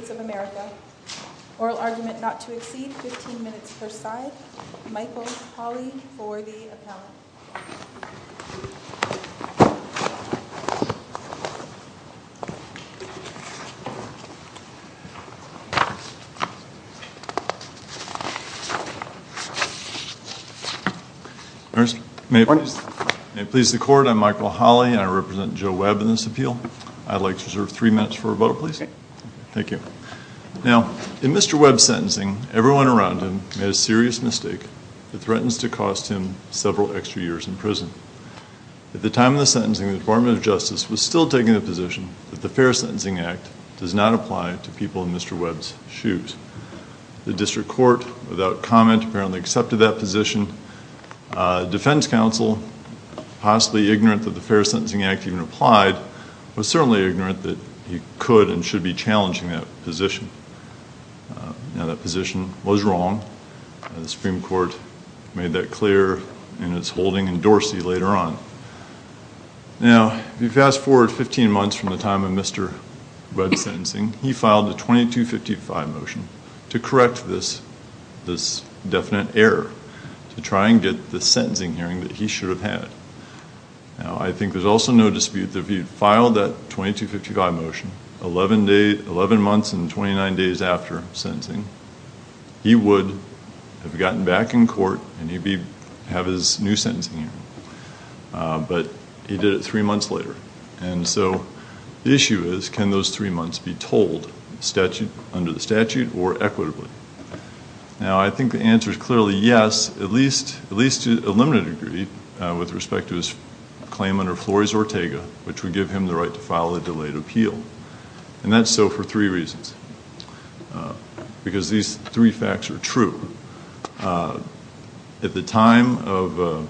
of America. Oral argument not to exceed 15 minutes per side. Michael Hawley for the appellate. May it please the court, I'm Michael Hawley and I represent Joe Webb in this appeal. I'd like to reserve three minutes for a vote, please. Thank you. Now, in Mr. Webb's sentencing, everyone around him made a serious mistake that threatens to cost him several extra years in prison. At the time of the sentencing, the Department of Justice was still taking the position that the Fair Sentencing Act does not apply to people in Mr. Webb's shoes. The district court, without comment, apparently accepted that position. Defense counsel, possibly ignorant that the Fair Sentencing Act even applied, was certainly ignorant that he could and should be challenging that position. Now, that position was wrong. The Supreme Court made that clear in its holding in Dorsey later on. Now, if you fast forward 15 months from the time of Mr. Webb's sentencing, he filed a 2255 motion to correct this definite error to try and get the sentencing hearing that he should have had. Now, I think there's also no dispute that if he had filed that 2255 motion 11 months and 29 days after sentencing, he would have gotten back in court and he'd have his new sentencing hearing. But he did it three months later. And so, the issue is, can those three months be told under the statute or equitably? Now, I think the answer is clearly yes, at least to a limited degree, with respect to his claim under Flores-Ortega, which would give him the right to file a delayed appeal. And that's so for three reasons. Because these three facts are true. First, at the time of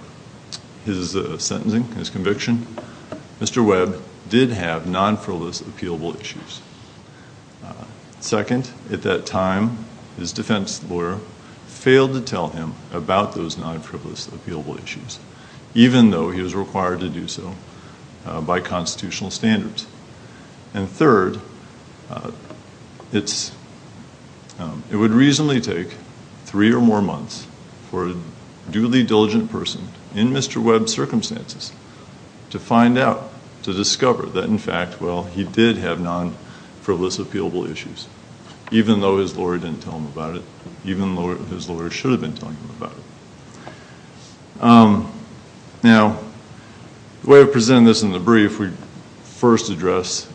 his sentencing, his conviction, Mr. Webb did have non-frivolous appealable issues. Second, at that time, his defense lawyer failed to tell him about those non-frivolous appealable issues, even though he was required to do so by constitutional standards. And third, it would reasonably take three or more months for a duly diligent person in Mr. Webb's circumstances to find out, to discover, that in fact, well, he did have non-frivolous appealable issues, even though his lawyer didn't tell him about it, even though his lawyer should have been telling him about it. Now, the way I've presented this in the brief, we first address...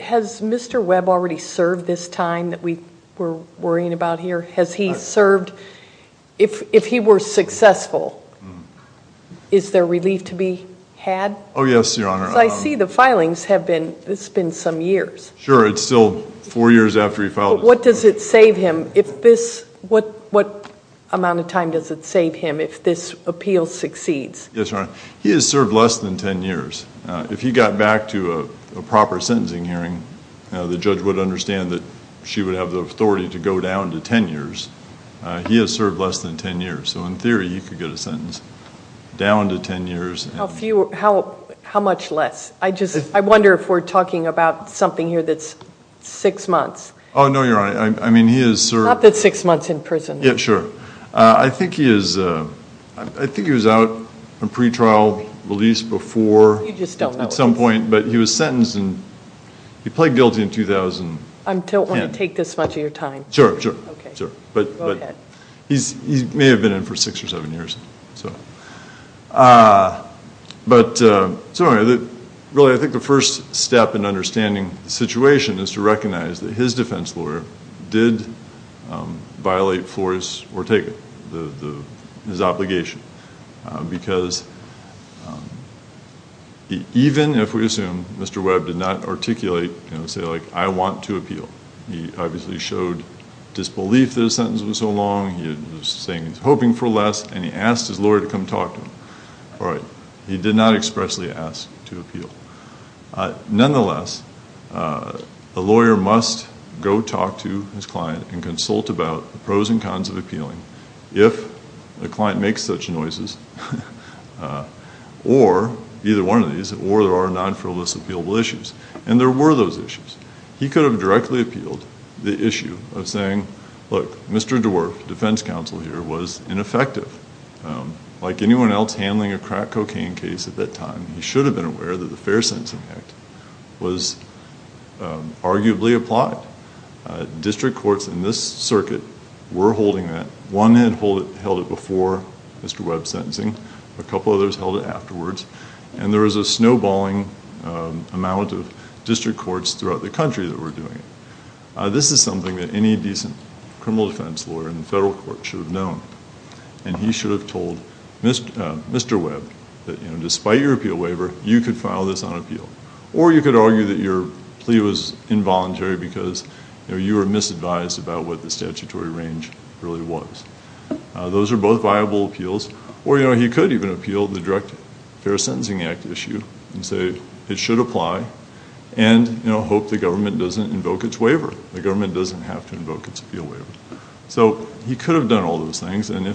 Has Mr. Webb already served this time that we were worrying about here? Has he served, if he were successful, is there relief to be had? Oh, yes, Your Honor. Because I see the filings have been, it's been some years. Sure, it's still four years after he filed his... What does it save him if this, what amount of time does it save him if this appeal succeeds? Yes, Your Honor. He has served less than ten years. If he got back to a proper sentencing hearing, the judge would understand that she would have the authority to go down to ten years. He has served less than ten years, so in theory, he could get a sentence down to ten years. How much less? I just, I wonder if we're talking about something here that's six months. Oh, no, Your Honor. I mean, he has served... Not that six months in prison. Yeah, sure. I think he is, I think he was out on pretrial release before. You just don't know. At some point, but he was sentenced and he pled guilty in 2010. I don't want to take this much of your time. Sure, sure. Okay. Go ahead. He may have been in for six or seven years. But, so anyway, really, I think the first step in understanding the situation is to recognize that his defense lawyer did violate Flores Ortega, his obligation. Because even if we assume Mr. Webb did not articulate, say, like, I want to appeal, he obviously showed disbelief that his sentence was so long. He was saying he was hoping for less, and he asked his lawyer to come talk to him. All right. He did not expressly ask to appeal. Nonetheless, a lawyer must go talk to his client and consult about the pros and cons of appealing if the client makes such noises, or, either one of these, or there are non-frivolous appealable issues. And there were those issues. He could have directly appealed the issue of saying, look, Mr. DeWolf, defense counsel here, was ineffective. Like anyone else handling a crack cocaine case at that time, he should have been aware that the Fair Sentencing Act was arguably applied. District courts in this circuit were holding that. One had held it before Mr. Webb's sentencing. A couple others held it afterwards. And there was a snowballing amount of district courts throughout the country that were doing it. This is something that any decent criminal defense lawyer in the federal court should have known. And he should have told Mr. Webb that, you know, despite your appeal waiver, you could file this on appeal. Or you could argue that your plea was involuntary because, you know, you were misadvised about what the statutory range really was. Those are both viable appeals. Or, you know, he could even appeal the direct Fair Sentencing Act issue and say it should apply and, you know, hope the government doesn't invoke its waiver. The government doesn't have to invoke its appeal waiver. So he could have done all those things. And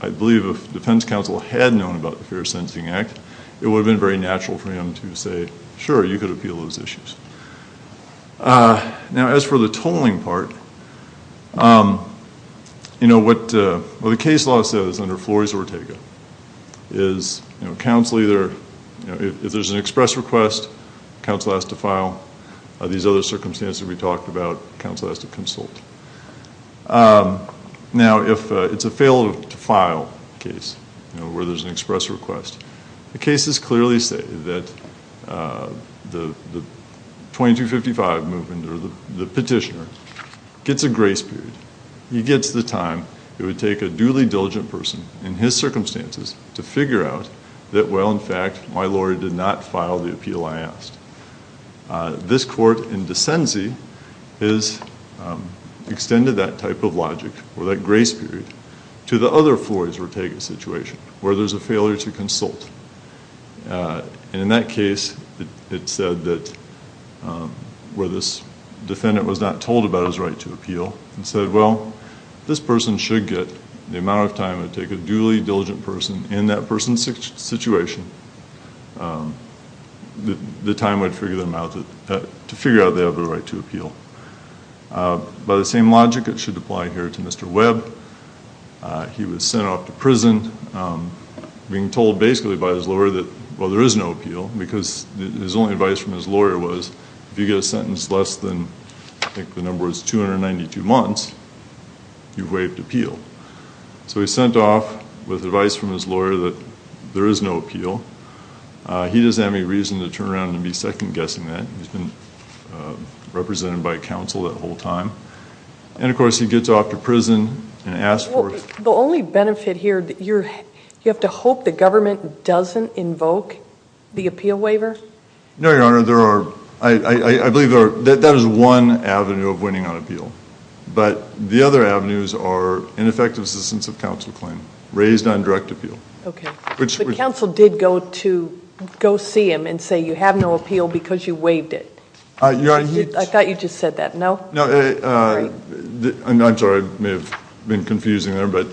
I believe if defense counsel had known about the Fair Sentencing Act, it would have been very natural for him to say, sure, you could appeal those issues. Now, as for the tolling part, you know, what the case law says under Flores-Ortega is, you know, if there's an express request, counsel has to file. These other circumstances we talked about, counsel has to consult. Now, if it's a fail to file case, you know, where there's an express request, the cases clearly say that the 2255 movement or the petitioner gets a grace period. He gets the time. It would take a duly diligent person in his circumstances to figure out that, well, in fact, my lawyer did not file the appeal I asked. This court in Desenze has extended that type of logic or that grace period to the other Flores-Ortega situation where there's a failure to consult. And in that case, it said that where this defendant was not told about his right to appeal, it said, well, this person should get the amount of time it would take a duly diligent person in that person's situation the time it would figure out they have the right to appeal. By the same logic, it should apply here to Mr. Webb. He was sent off to prison, being told basically by his lawyer that, well, there is no appeal, because his only advice from his lawyer was if you get a sentence less than I think the number was 292 months, you've waived appeal. So he's sent off with advice from his lawyer that there is no appeal. He doesn't have any reason to turn around and be second-guessing that. He's been represented by counsel that whole time. And, of course, he gets off to prison and asked for it. Well, the only benefit here, you have to hope the government doesn't invoke the appeal waiver? No, Your Honor. I believe that is one avenue of winning on appeal. But the other avenues are ineffective assistance of counsel claim raised on direct appeal. Okay. But counsel did go see him and say you have no appeal because you waived it. I thought you just said that, no? No. I'm sorry. I may have been confusing there. But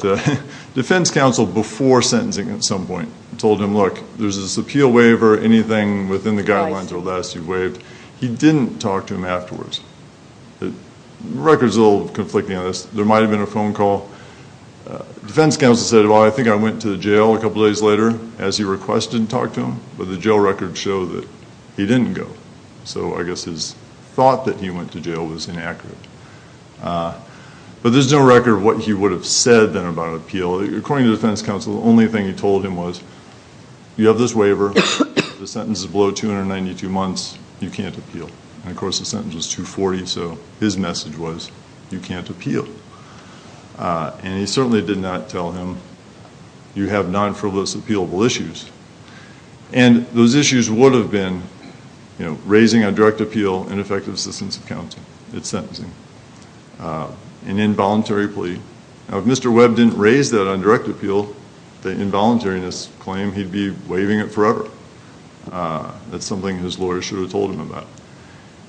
defense counsel, before sentencing at some point, told him, look, there's this appeal waiver, anything within the guidelines or less you've waived. He didn't talk to him afterwards. The record is a little conflicting on this. There might have been a phone call. Defense counsel said, well, I think I went to the jail a couple days later, as he requested, and talked to him. But the jail records show that he didn't go. So I guess his thought that he went to jail was inaccurate. But there's no record of what he would have said then about appeal. According to defense counsel, the only thing he told him was, you have this waiver, the sentence is below 292 months, you can't appeal. And, of course, the sentence was 240, so his message was you can't appeal. And he certainly did not tell him you have non-frivolous appealable issues. And those issues would have been raising on direct appeal and effective assistance of counsel at sentencing, an involuntary plea. Now, if Mr. Webb didn't raise that on direct appeal, the involuntariness claim he'd be waiving it forever. That's something his lawyer should have told him about.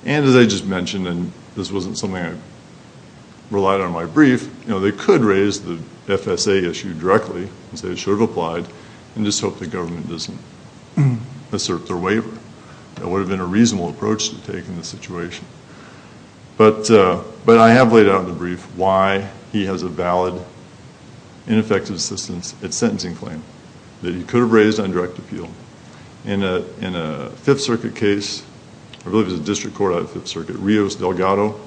And, as I just mentioned, and this wasn't something I relied on in my brief, they could raise the FSA issue directly and say it should have applied and just hope the government doesn't assert their waiver. That would have been a reasonable approach to take in this situation. But I have laid out in the brief why he has a valid and effective assistance at sentencing claim that he could have raised on direct appeal. In a Fifth Circuit case, I believe it was a district court out of Fifth Circuit, Rios Delgado,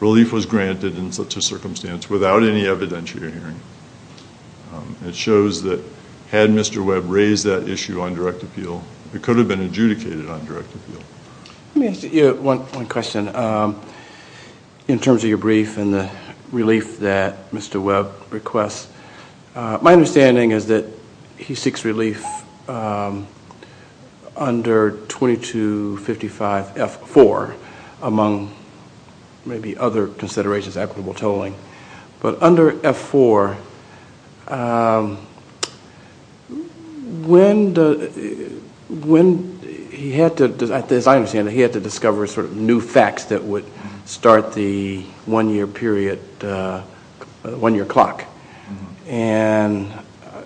relief was granted in such a circumstance without any evidentiary hearing. It shows that had Mr. Webb raised that issue on direct appeal, it could have been adjudicated on direct appeal. Let me ask you one question. In terms of your brief and the relief that Mr. Webb requests, my understanding is that he seeks relief under 2255F4, among maybe other considerations, equitable tolling. But under F4, when he had to, as I understand it, he had to discover sort of new facts that would start the one-year period, one-year clock. And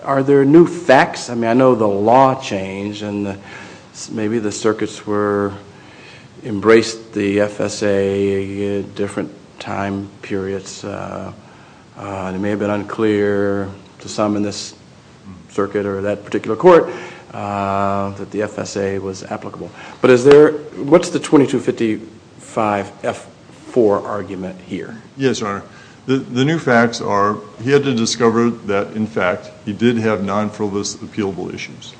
are there new facts? I mean, I know the law changed and maybe the circuits were, the FSA had different time periods. It may have been unclear to some in this circuit or that particular court that the FSA was applicable. But is there, what's the 2255F4 argument here? Yes, Your Honor. The new facts are he had to discover that, in fact, he did have non-flawless appealable issues.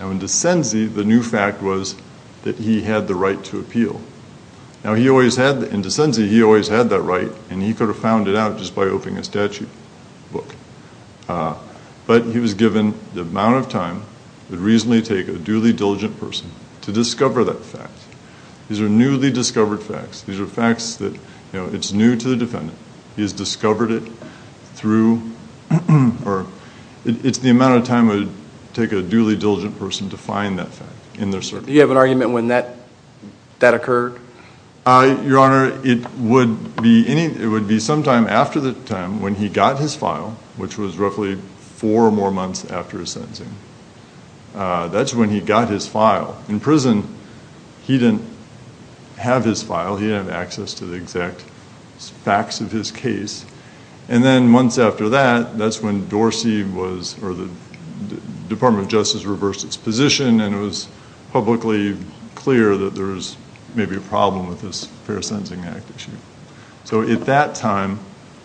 Now, in de sensi, the new fact was that he had the right to appeal. Now, he always had, in de sensi, he always had that right, and he could have found it out just by opening a statute book. But he was given the amount of time it would reasonably take a duly diligent person to discover that fact. These are newly discovered facts. These are facts that, you know, it's new to the defendant. He has discovered it through, or it's the amount of time it would take a duly diligent person to find that fact in their circuit. Do you have an argument when that occurred? Your Honor, it would be sometime after the time when he got his file, which was roughly four more months after his sentencing. That's when he got his file. In prison, he didn't have his file. He didn't have access to the exact facts of his case. And then months after that, that's when Dorsey was, or the Department of Justice reversed its position, and it was publicly clear that there was maybe a problem with this Fair Sentencing Act issue. So at that time,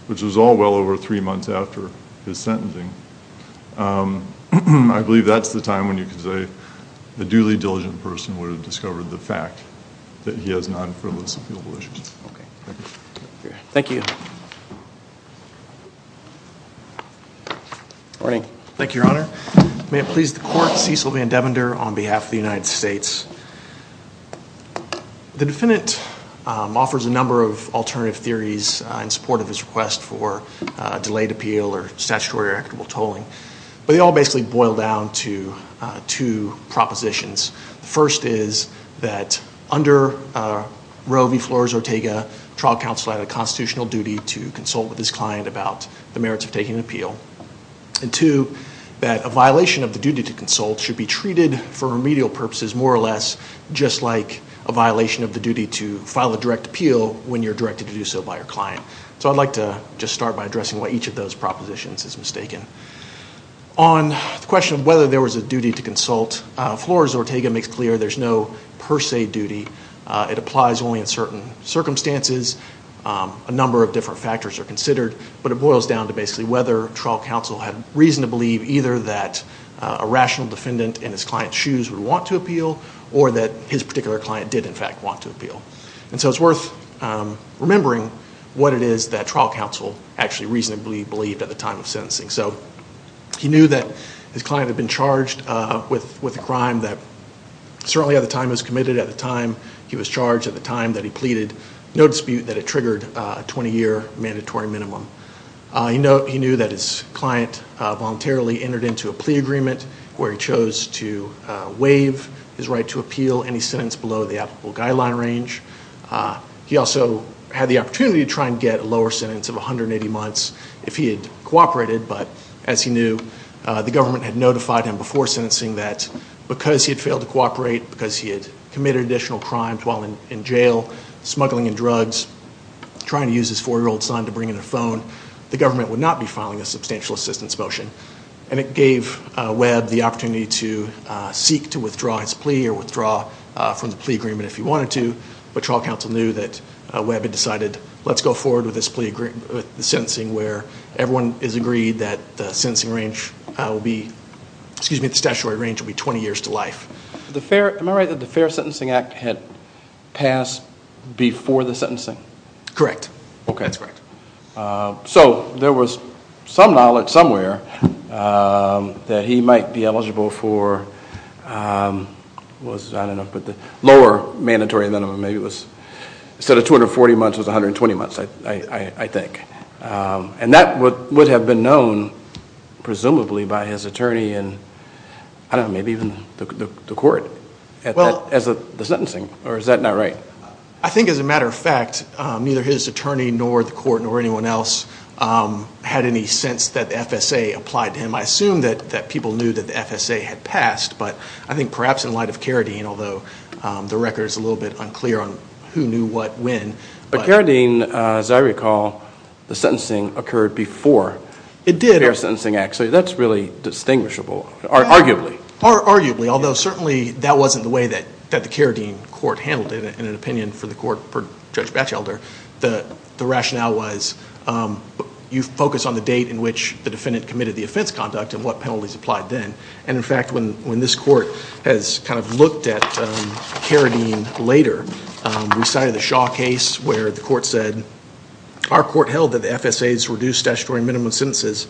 which was all well over three months after his sentencing, I believe that's the time when you could say the duly diligent person would have discovered the fact that he has non-frivolous appealable issues. Okay. Thank you. Thank you. Morning. Thank you, Your Honor. May it please the Court, Cecil Van Devender on behalf of the United States. The defendant offers a number of alternative theories in support of his request for delayed appeal or statutory or equitable tolling. But they all basically boil down to two propositions. The first is that under Roe v. Flores-Ortega, trial counsel had a constitutional duty to consult with his client about the merits of taking an appeal. And two, that a violation of the duty to consult should be treated for remedial purposes more or less just like a violation of the duty to file a direct appeal when you're directed to do so by your client. So I'd like to just start by addressing why each of those propositions is mistaken. On the question of whether there was a duty to consult, Flores-Ortega makes clear there's no per se duty. It applies only in certain circumstances. A number of different factors are considered. But it boils down to basically whether trial counsel had reason to believe either that a rational defendant in his client's shoes would want to appeal or that his particular client did, in fact, want to appeal. And so it's worth remembering what it is that trial counsel actually reasonably believed at the time of sentencing. So he knew that his client had been charged with a crime that certainly at the time he was committed, at the time he was charged, at the time that he pleaded, no dispute that it triggered a 20-year mandatory minimum. He knew that his client voluntarily entered into a plea agreement where he chose to waive his right to appeal any sentence below the applicable guideline range. He also had the opportunity to try and get a lower sentence of 180 months if he had cooperated. But as he knew, the government had notified him before sentencing that because he had failed to cooperate, because he had committed additional crimes while in jail, smuggling and drugs, trying to use his 4-year-old son to bring in a phone, the government would not be filing a substantial assistance motion. And it gave Webb the opportunity to seek to withdraw his plea or withdraw from the plea agreement if he wanted to. But trial counsel knew that Webb had decided, let's go forward with this plea agreement, with the sentencing where everyone is agreed that the sentencing range will be, excuse me, the statutory range will be 20 years to life. Am I right that the Fair Sentencing Act had passed before the sentencing? Correct. Okay, that's correct. So there was some knowledge somewhere that he might be eligible for, I don't know, but the lower mandatory minimum maybe was instead of 240 months was 120 months, I think. And that would have been known presumably by his attorney and, I don't know, maybe even the court as the sentencing. Or is that not right? I think, as a matter of fact, neither his attorney nor the court nor anyone else had any sense that the FSA applied to him. I assume that people knew that the FSA had passed, but I think perhaps in light of Carradine, although the record is a little bit unclear on who knew what when. But Carradine, as I recall, the sentencing occurred before the Fair Sentencing Act. It did. So that's really distinguishable, arguably. Arguably, although certainly that wasn't the way that the Carradine court handled it, in an opinion for the court per Judge Batchelder. The rationale was you focus on the date in which the defendant committed the offense conduct and what penalties applied then. And, in fact, when this court has kind of looked at Carradine later, we cited the Shaw case where the court said, our court held that the FSA's reduced statutory minimum sentences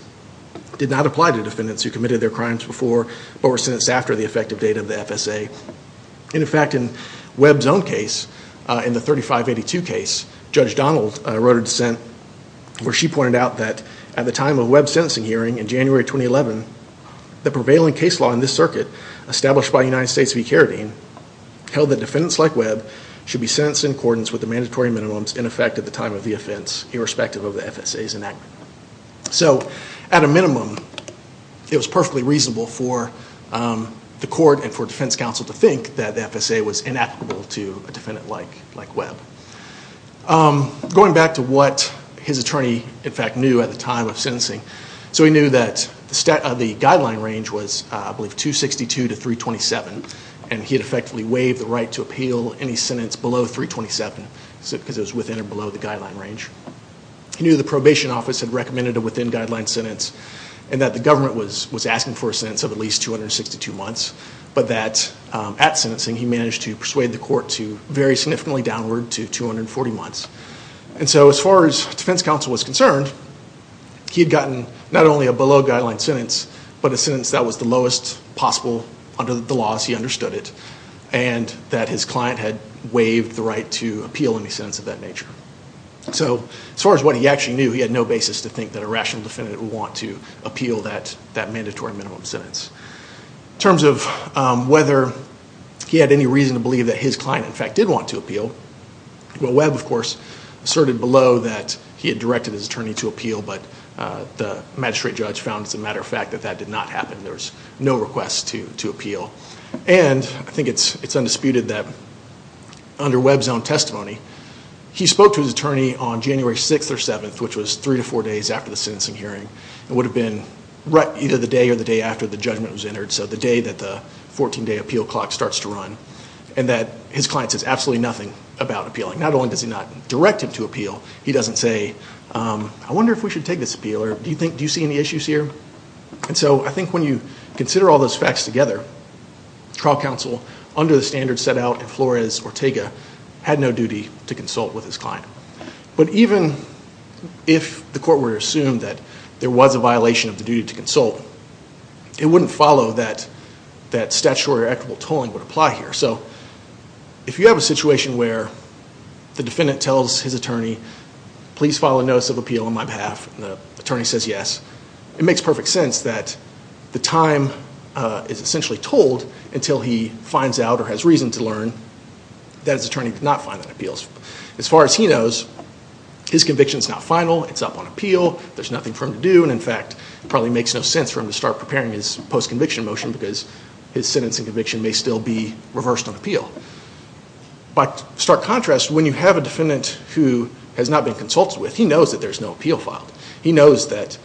did not apply to defendants who committed their crimes before but were sentenced after the effective date of the FSA. In fact, in Webb's own case, in the 3582 case, Judge Donald wrote a dissent where she pointed out that at the time of Webb's sentencing hearing in January 2011, the prevailing case law in this circuit, established by the United States v. Carradine, held that defendants like Webb should be sentenced in accordance with the mandatory minimums in effect at the time of the offense, irrespective of the FSA's enactment. So, at a minimum, it was perfectly reasonable for the court and for defense counsel to think that the FSA was inapplicable to a defendant like Webb. Going back to what his attorney, in fact, knew at the time of sentencing, so he knew that the guideline range was, I believe, 262 to 327, and he had effectively waived the right to appeal any sentence below 327, because it was within or below the guideline range. He knew the probation office had recommended a within guideline sentence, and that the government was asking for a sentence of at least 262 months, but that at sentencing, he managed to persuade the court to vary significantly downward to 240 months. And so, as far as defense counsel was concerned, he had gotten not only a below guideline sentence, but a sentence that was the lowest possible under the laws, he understood it, and that his client had waived the right to appeal any sentence of that nature. So, as far as what he actually knew, he had no basis to think that a rational defendant would want to appeal that mandatory minimum sentence. In terms of whether he had any reason to believe that his client, in fact, did want to appeal, well, Webb, of course, asserted below that he had directed his attorney to appeal, but the magistrate judge found, as a matter of fact, that that did not happen. There was no request to appeal. And I think it's undisputed that under Webb's own testimony, he spoke to his attorney on January 6th or 7th, which was three to four days after the sentencing hearing. It would have been either the day or the day after the judgment was entered, so the day that the 14-day appeal clock starts to run, and that his client says absolutely nothing about appealing. Not only does he not direct him to appeal, he doesn't say, I wonder if we should take this appeal, or do you see any issues here? And so I think when you consider all those facts together, trial counsel, under the standards set out in Flores-Ortega, had no duty to consult with his client. But even if the court were to assume that there was a violation of the duty to consult, it wouldn't follow that statutory or equitable tolling would apply here. So if you have a situation where the defendant tells his attorney, please file a notice of appeal on my behalf, and the attorney says yes, it makes perfect sense that the time is essentially told until he finds out or has reason to learn that his attorney did not file an appeal. As far as he knows, his conviction is not final, it's up on appeal, there's nothing for him to do, and in fact, it probably makes no sense for him to start preparing his post-conviction motion because his sentencing conviction may still be reversed on appeal. By stark contrast, when you have a defendant who has not been consulted with, he knows that there's no appeal filed. He knows that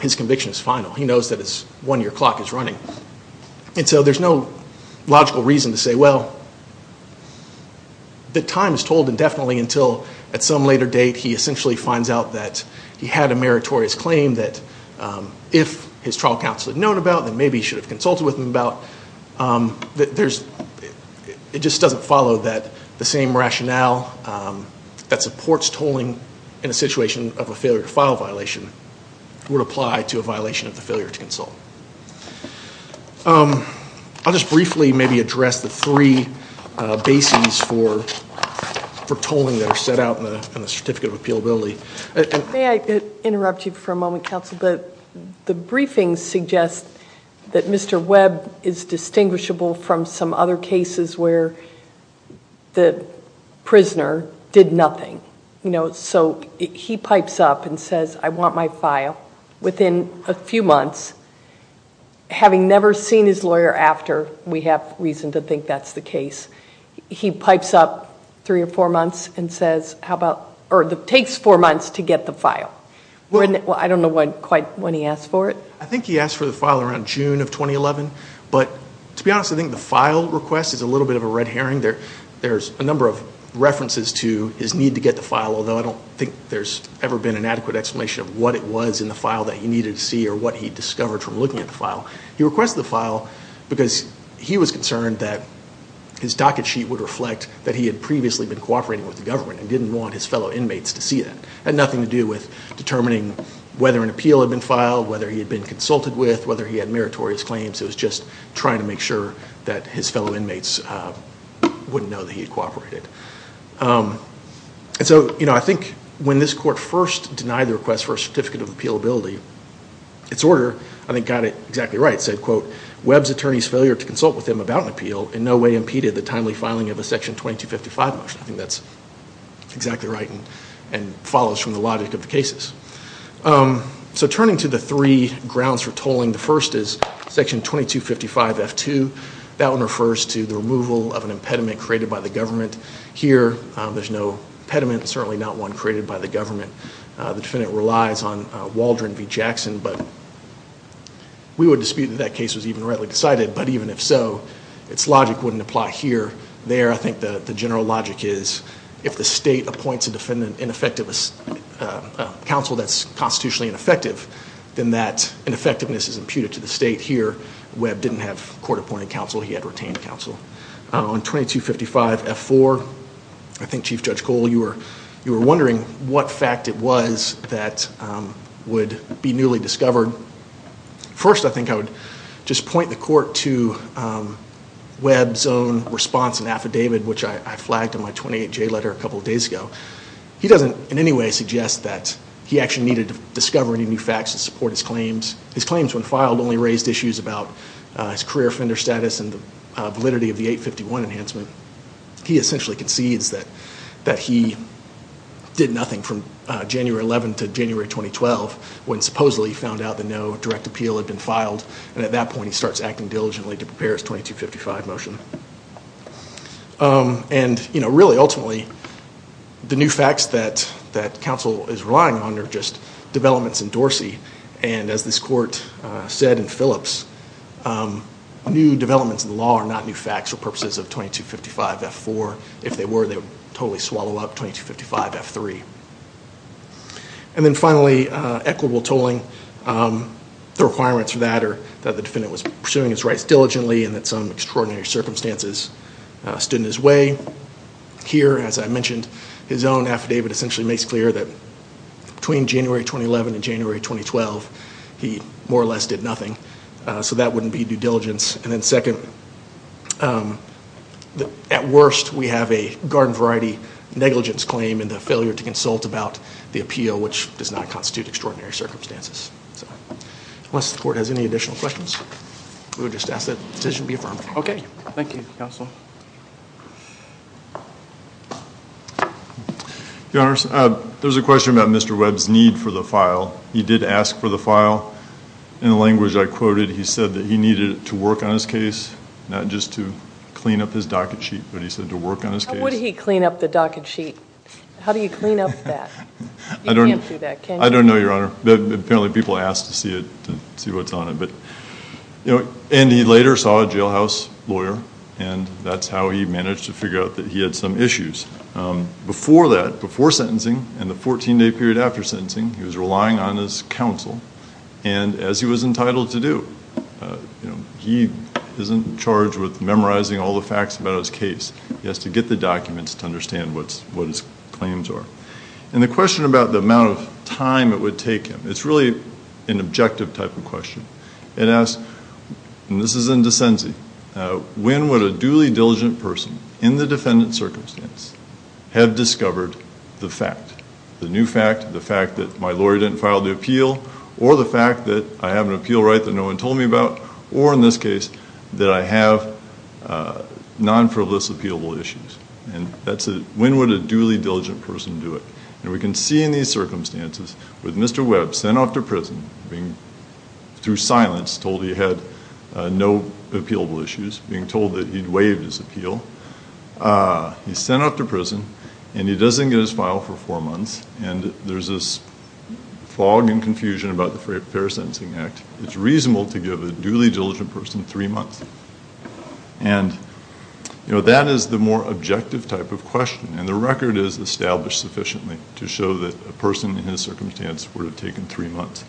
his conviction is final. He knows that his one-year clock is running. And so there's no logical reason to say, well, the time is told indefinitely until at some later date he essentially finds out that he had a meritorious claim that if his trial counsel had known about, then maybe he should have consulted with him about. It just doesn't follow that the same rationale that supports tolling in a situation of a failure to file violation would apply to a violation of the failure to consult. I'll just briefly maybe address the three bases for tolling that are set out in the Certificate of Appealability. May I interrupt you for a moment, counsel? The briefings suggest that Mr. Webb is distinguishable from some other cases where the prisoner did nothing. So he pipes up and says, I want my file. Within a few months, having never seen his lawyer after, we have reason to think that's the case, he pipes up three or four months and says, or it takes four months to get the file. I don't know quite when he asked for it. I think he asked for the file around June of 2011. But to be honest, I think the file request is a little bit of a red herring. There's a number of references to his need to get the file, although I don't think there's ever been an adequate explanation of what it was in the file that he needed to see or what he discovered from looking at the file. He requested the file because he was concerned that his docket sheet would reflect that he had previously been cooperating with the government and didn't want his fellow inmates to see that. It had nothing to do with determining whether an appeal had been filed, whether he had been consulted with, whether he had meritorious claims. It was just trying to make sure that his fellow inmates wouldn't know that he had cooperated. I think when this court first denied the request for a Certificate of Appealability, its order, I think, got it exactly right. It said, quote, Webb's attorney's failure to consult with him about an appeal in no way impeded the timely filing of a Section 2255 motion. I think that's exactly right and follows from the logic of the cases. So turning to the three grounds for tolling, the first is Section 2255-F2. That one refers to the removal of an impediment created by the government. Here, there's no impediment, certainly not one created by the government. The defendant relies on Waldron v. Jackson, but we would dispute that that case was even rightly decided, but even if so, its logic wouldn't apply here. There, I think the general logic is, if the state appoints a counsel that's constitutionally ineffective, then that ineffectiveness is imputed to the state. Here, Webb didn't have court-appointed counsel. He had retained counsel. On 2255-F4, I think, Chief Judge Cole, you were wondering what fact it was that would be newly discovered. First, I think I would just point the court to which I flagged in my 28-J letter a couple of days ago. He doesn't in any way suggest that he actually needed to discover any new facts to support his claims. His claims, when filed, only raised issues about his career offender status and the validity of the 851 enhancement. He essentially concedes that he did nothing from January 11 to January 2012 when supposedly he found out that no direct appeal had been filed, and at that point he starts acting diligently to prepare his 2255 motion. Really, ultimately, the new facts that counsel is relying on are just developments in Dorsey. As this court said in Phillips, new developments in the law are not new facts for purposes of 2255-F4. If they were, they would totally swallow up 2255-F3. And then finally, equitable tolling. The requirements for that are that the defendant was pursuing his rights diligently and that some extraordinary circumstances stood in his way. Here, as I mentioned, his own affidavit essentially makes clear that between January 2011 and January 2012, he more or less did nothing. So that wouldn't be due diligence. And then second, at worst, we have a garden variety negligence claim and the failure to consult about the appeal, which does not constitute extraordinary circumstances. Unless the court has any additional questions, we would just ask that the decision be affirmed. Okay. Thank you, counsel. Your Honors, there's a question about Mr. Webb's need for the file. He did ask for the file. In the language I quoted, he said that he needed it to work on his case, not just to clean up his docket sheet, but he said to work on his case. How would he clean up the docket sheet? How do you clean up that? You can't do that, can you? I don't know, Your Honor. Apparently people ask to see what's on it. And he later saw a jailhouse lawyer, and that's how he managed to figure out that he had some issues. Before that, before sentencing and the 14-day period after sentencing, he was relying on his counsel, and as he was entitled to do. He isn't charged with memorizing all the facts about his case. He has to get the documents to understand what his claims are. And the question about the amount of time it would take him, it's really an objective type of question. It asks, and this is in Descenzi, when would a duly diligent person in the defendant's circumstance have discovered the fact, the new fact, the fact that my lawyer didn't file the appeal, or the fact that I have an appeal right that no one told me about, or in this case, that I have non-frivolous appealable issues? And that's a, when would a duly diligent person do it? And we can see in these circumstances with Mr. Webb sent off to prison, being through silence told he had no appealable issues, being told that he'd waived his appeal. He's sent off to prison, and he doesn't get his file for four months, and there's this fog and confusion about the Fair Sentencing Act. It's reasonable to give a duly diligent person three months. And, you know, that is the more objective type of question, and the record is established sufficiently to show that a person in his circumstance would have taken three months.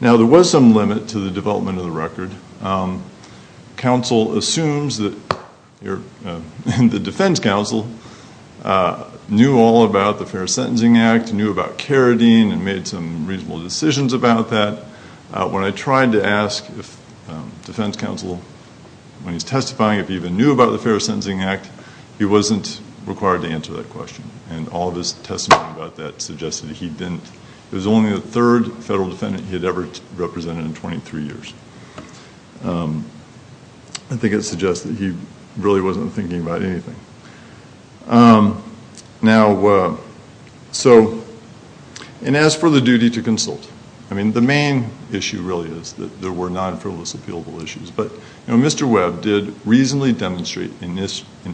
Now, there was some limit to the development of the record. Counsel assumes that you're, and the defense counsel, knew all about the Fair Sentencing Act, knew about Carradine, and made some reasonable decisions about that. When I tried to ask if defense counsel, when he's testifying, if he even knew about the Fair Sentencing Act, he wasn't required to answer that question. And all of his testimony about that suggested he didn't. It was only the third federal defendant he had ever represented in 23 years. I think it suggests that he really wasn't thinking about anything. Now, so, and as for the duty to consult, I mean, the main issue really is that there were non-frivolous appealable issues. But, you know, Mr. Webb did reasonably demonstrate an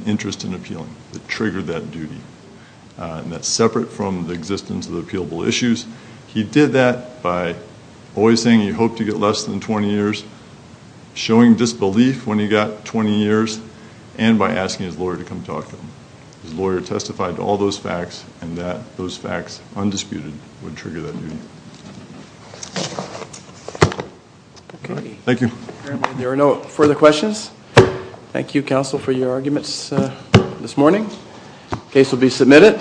interest in appealing that triggered that duty, and that's separate from the existence of the appealable issues. He did that by always saying he hoped to get less than 20 years, showing disbelief when he got 20 years, and by asking his lawyer to come talk to him. His lawyer testified to all those facts, and that those facts, undisputed, would trigger that duty. Thank you. There are no further questions. Thank you, counsel, for your arguments this morning. The case will be submitted.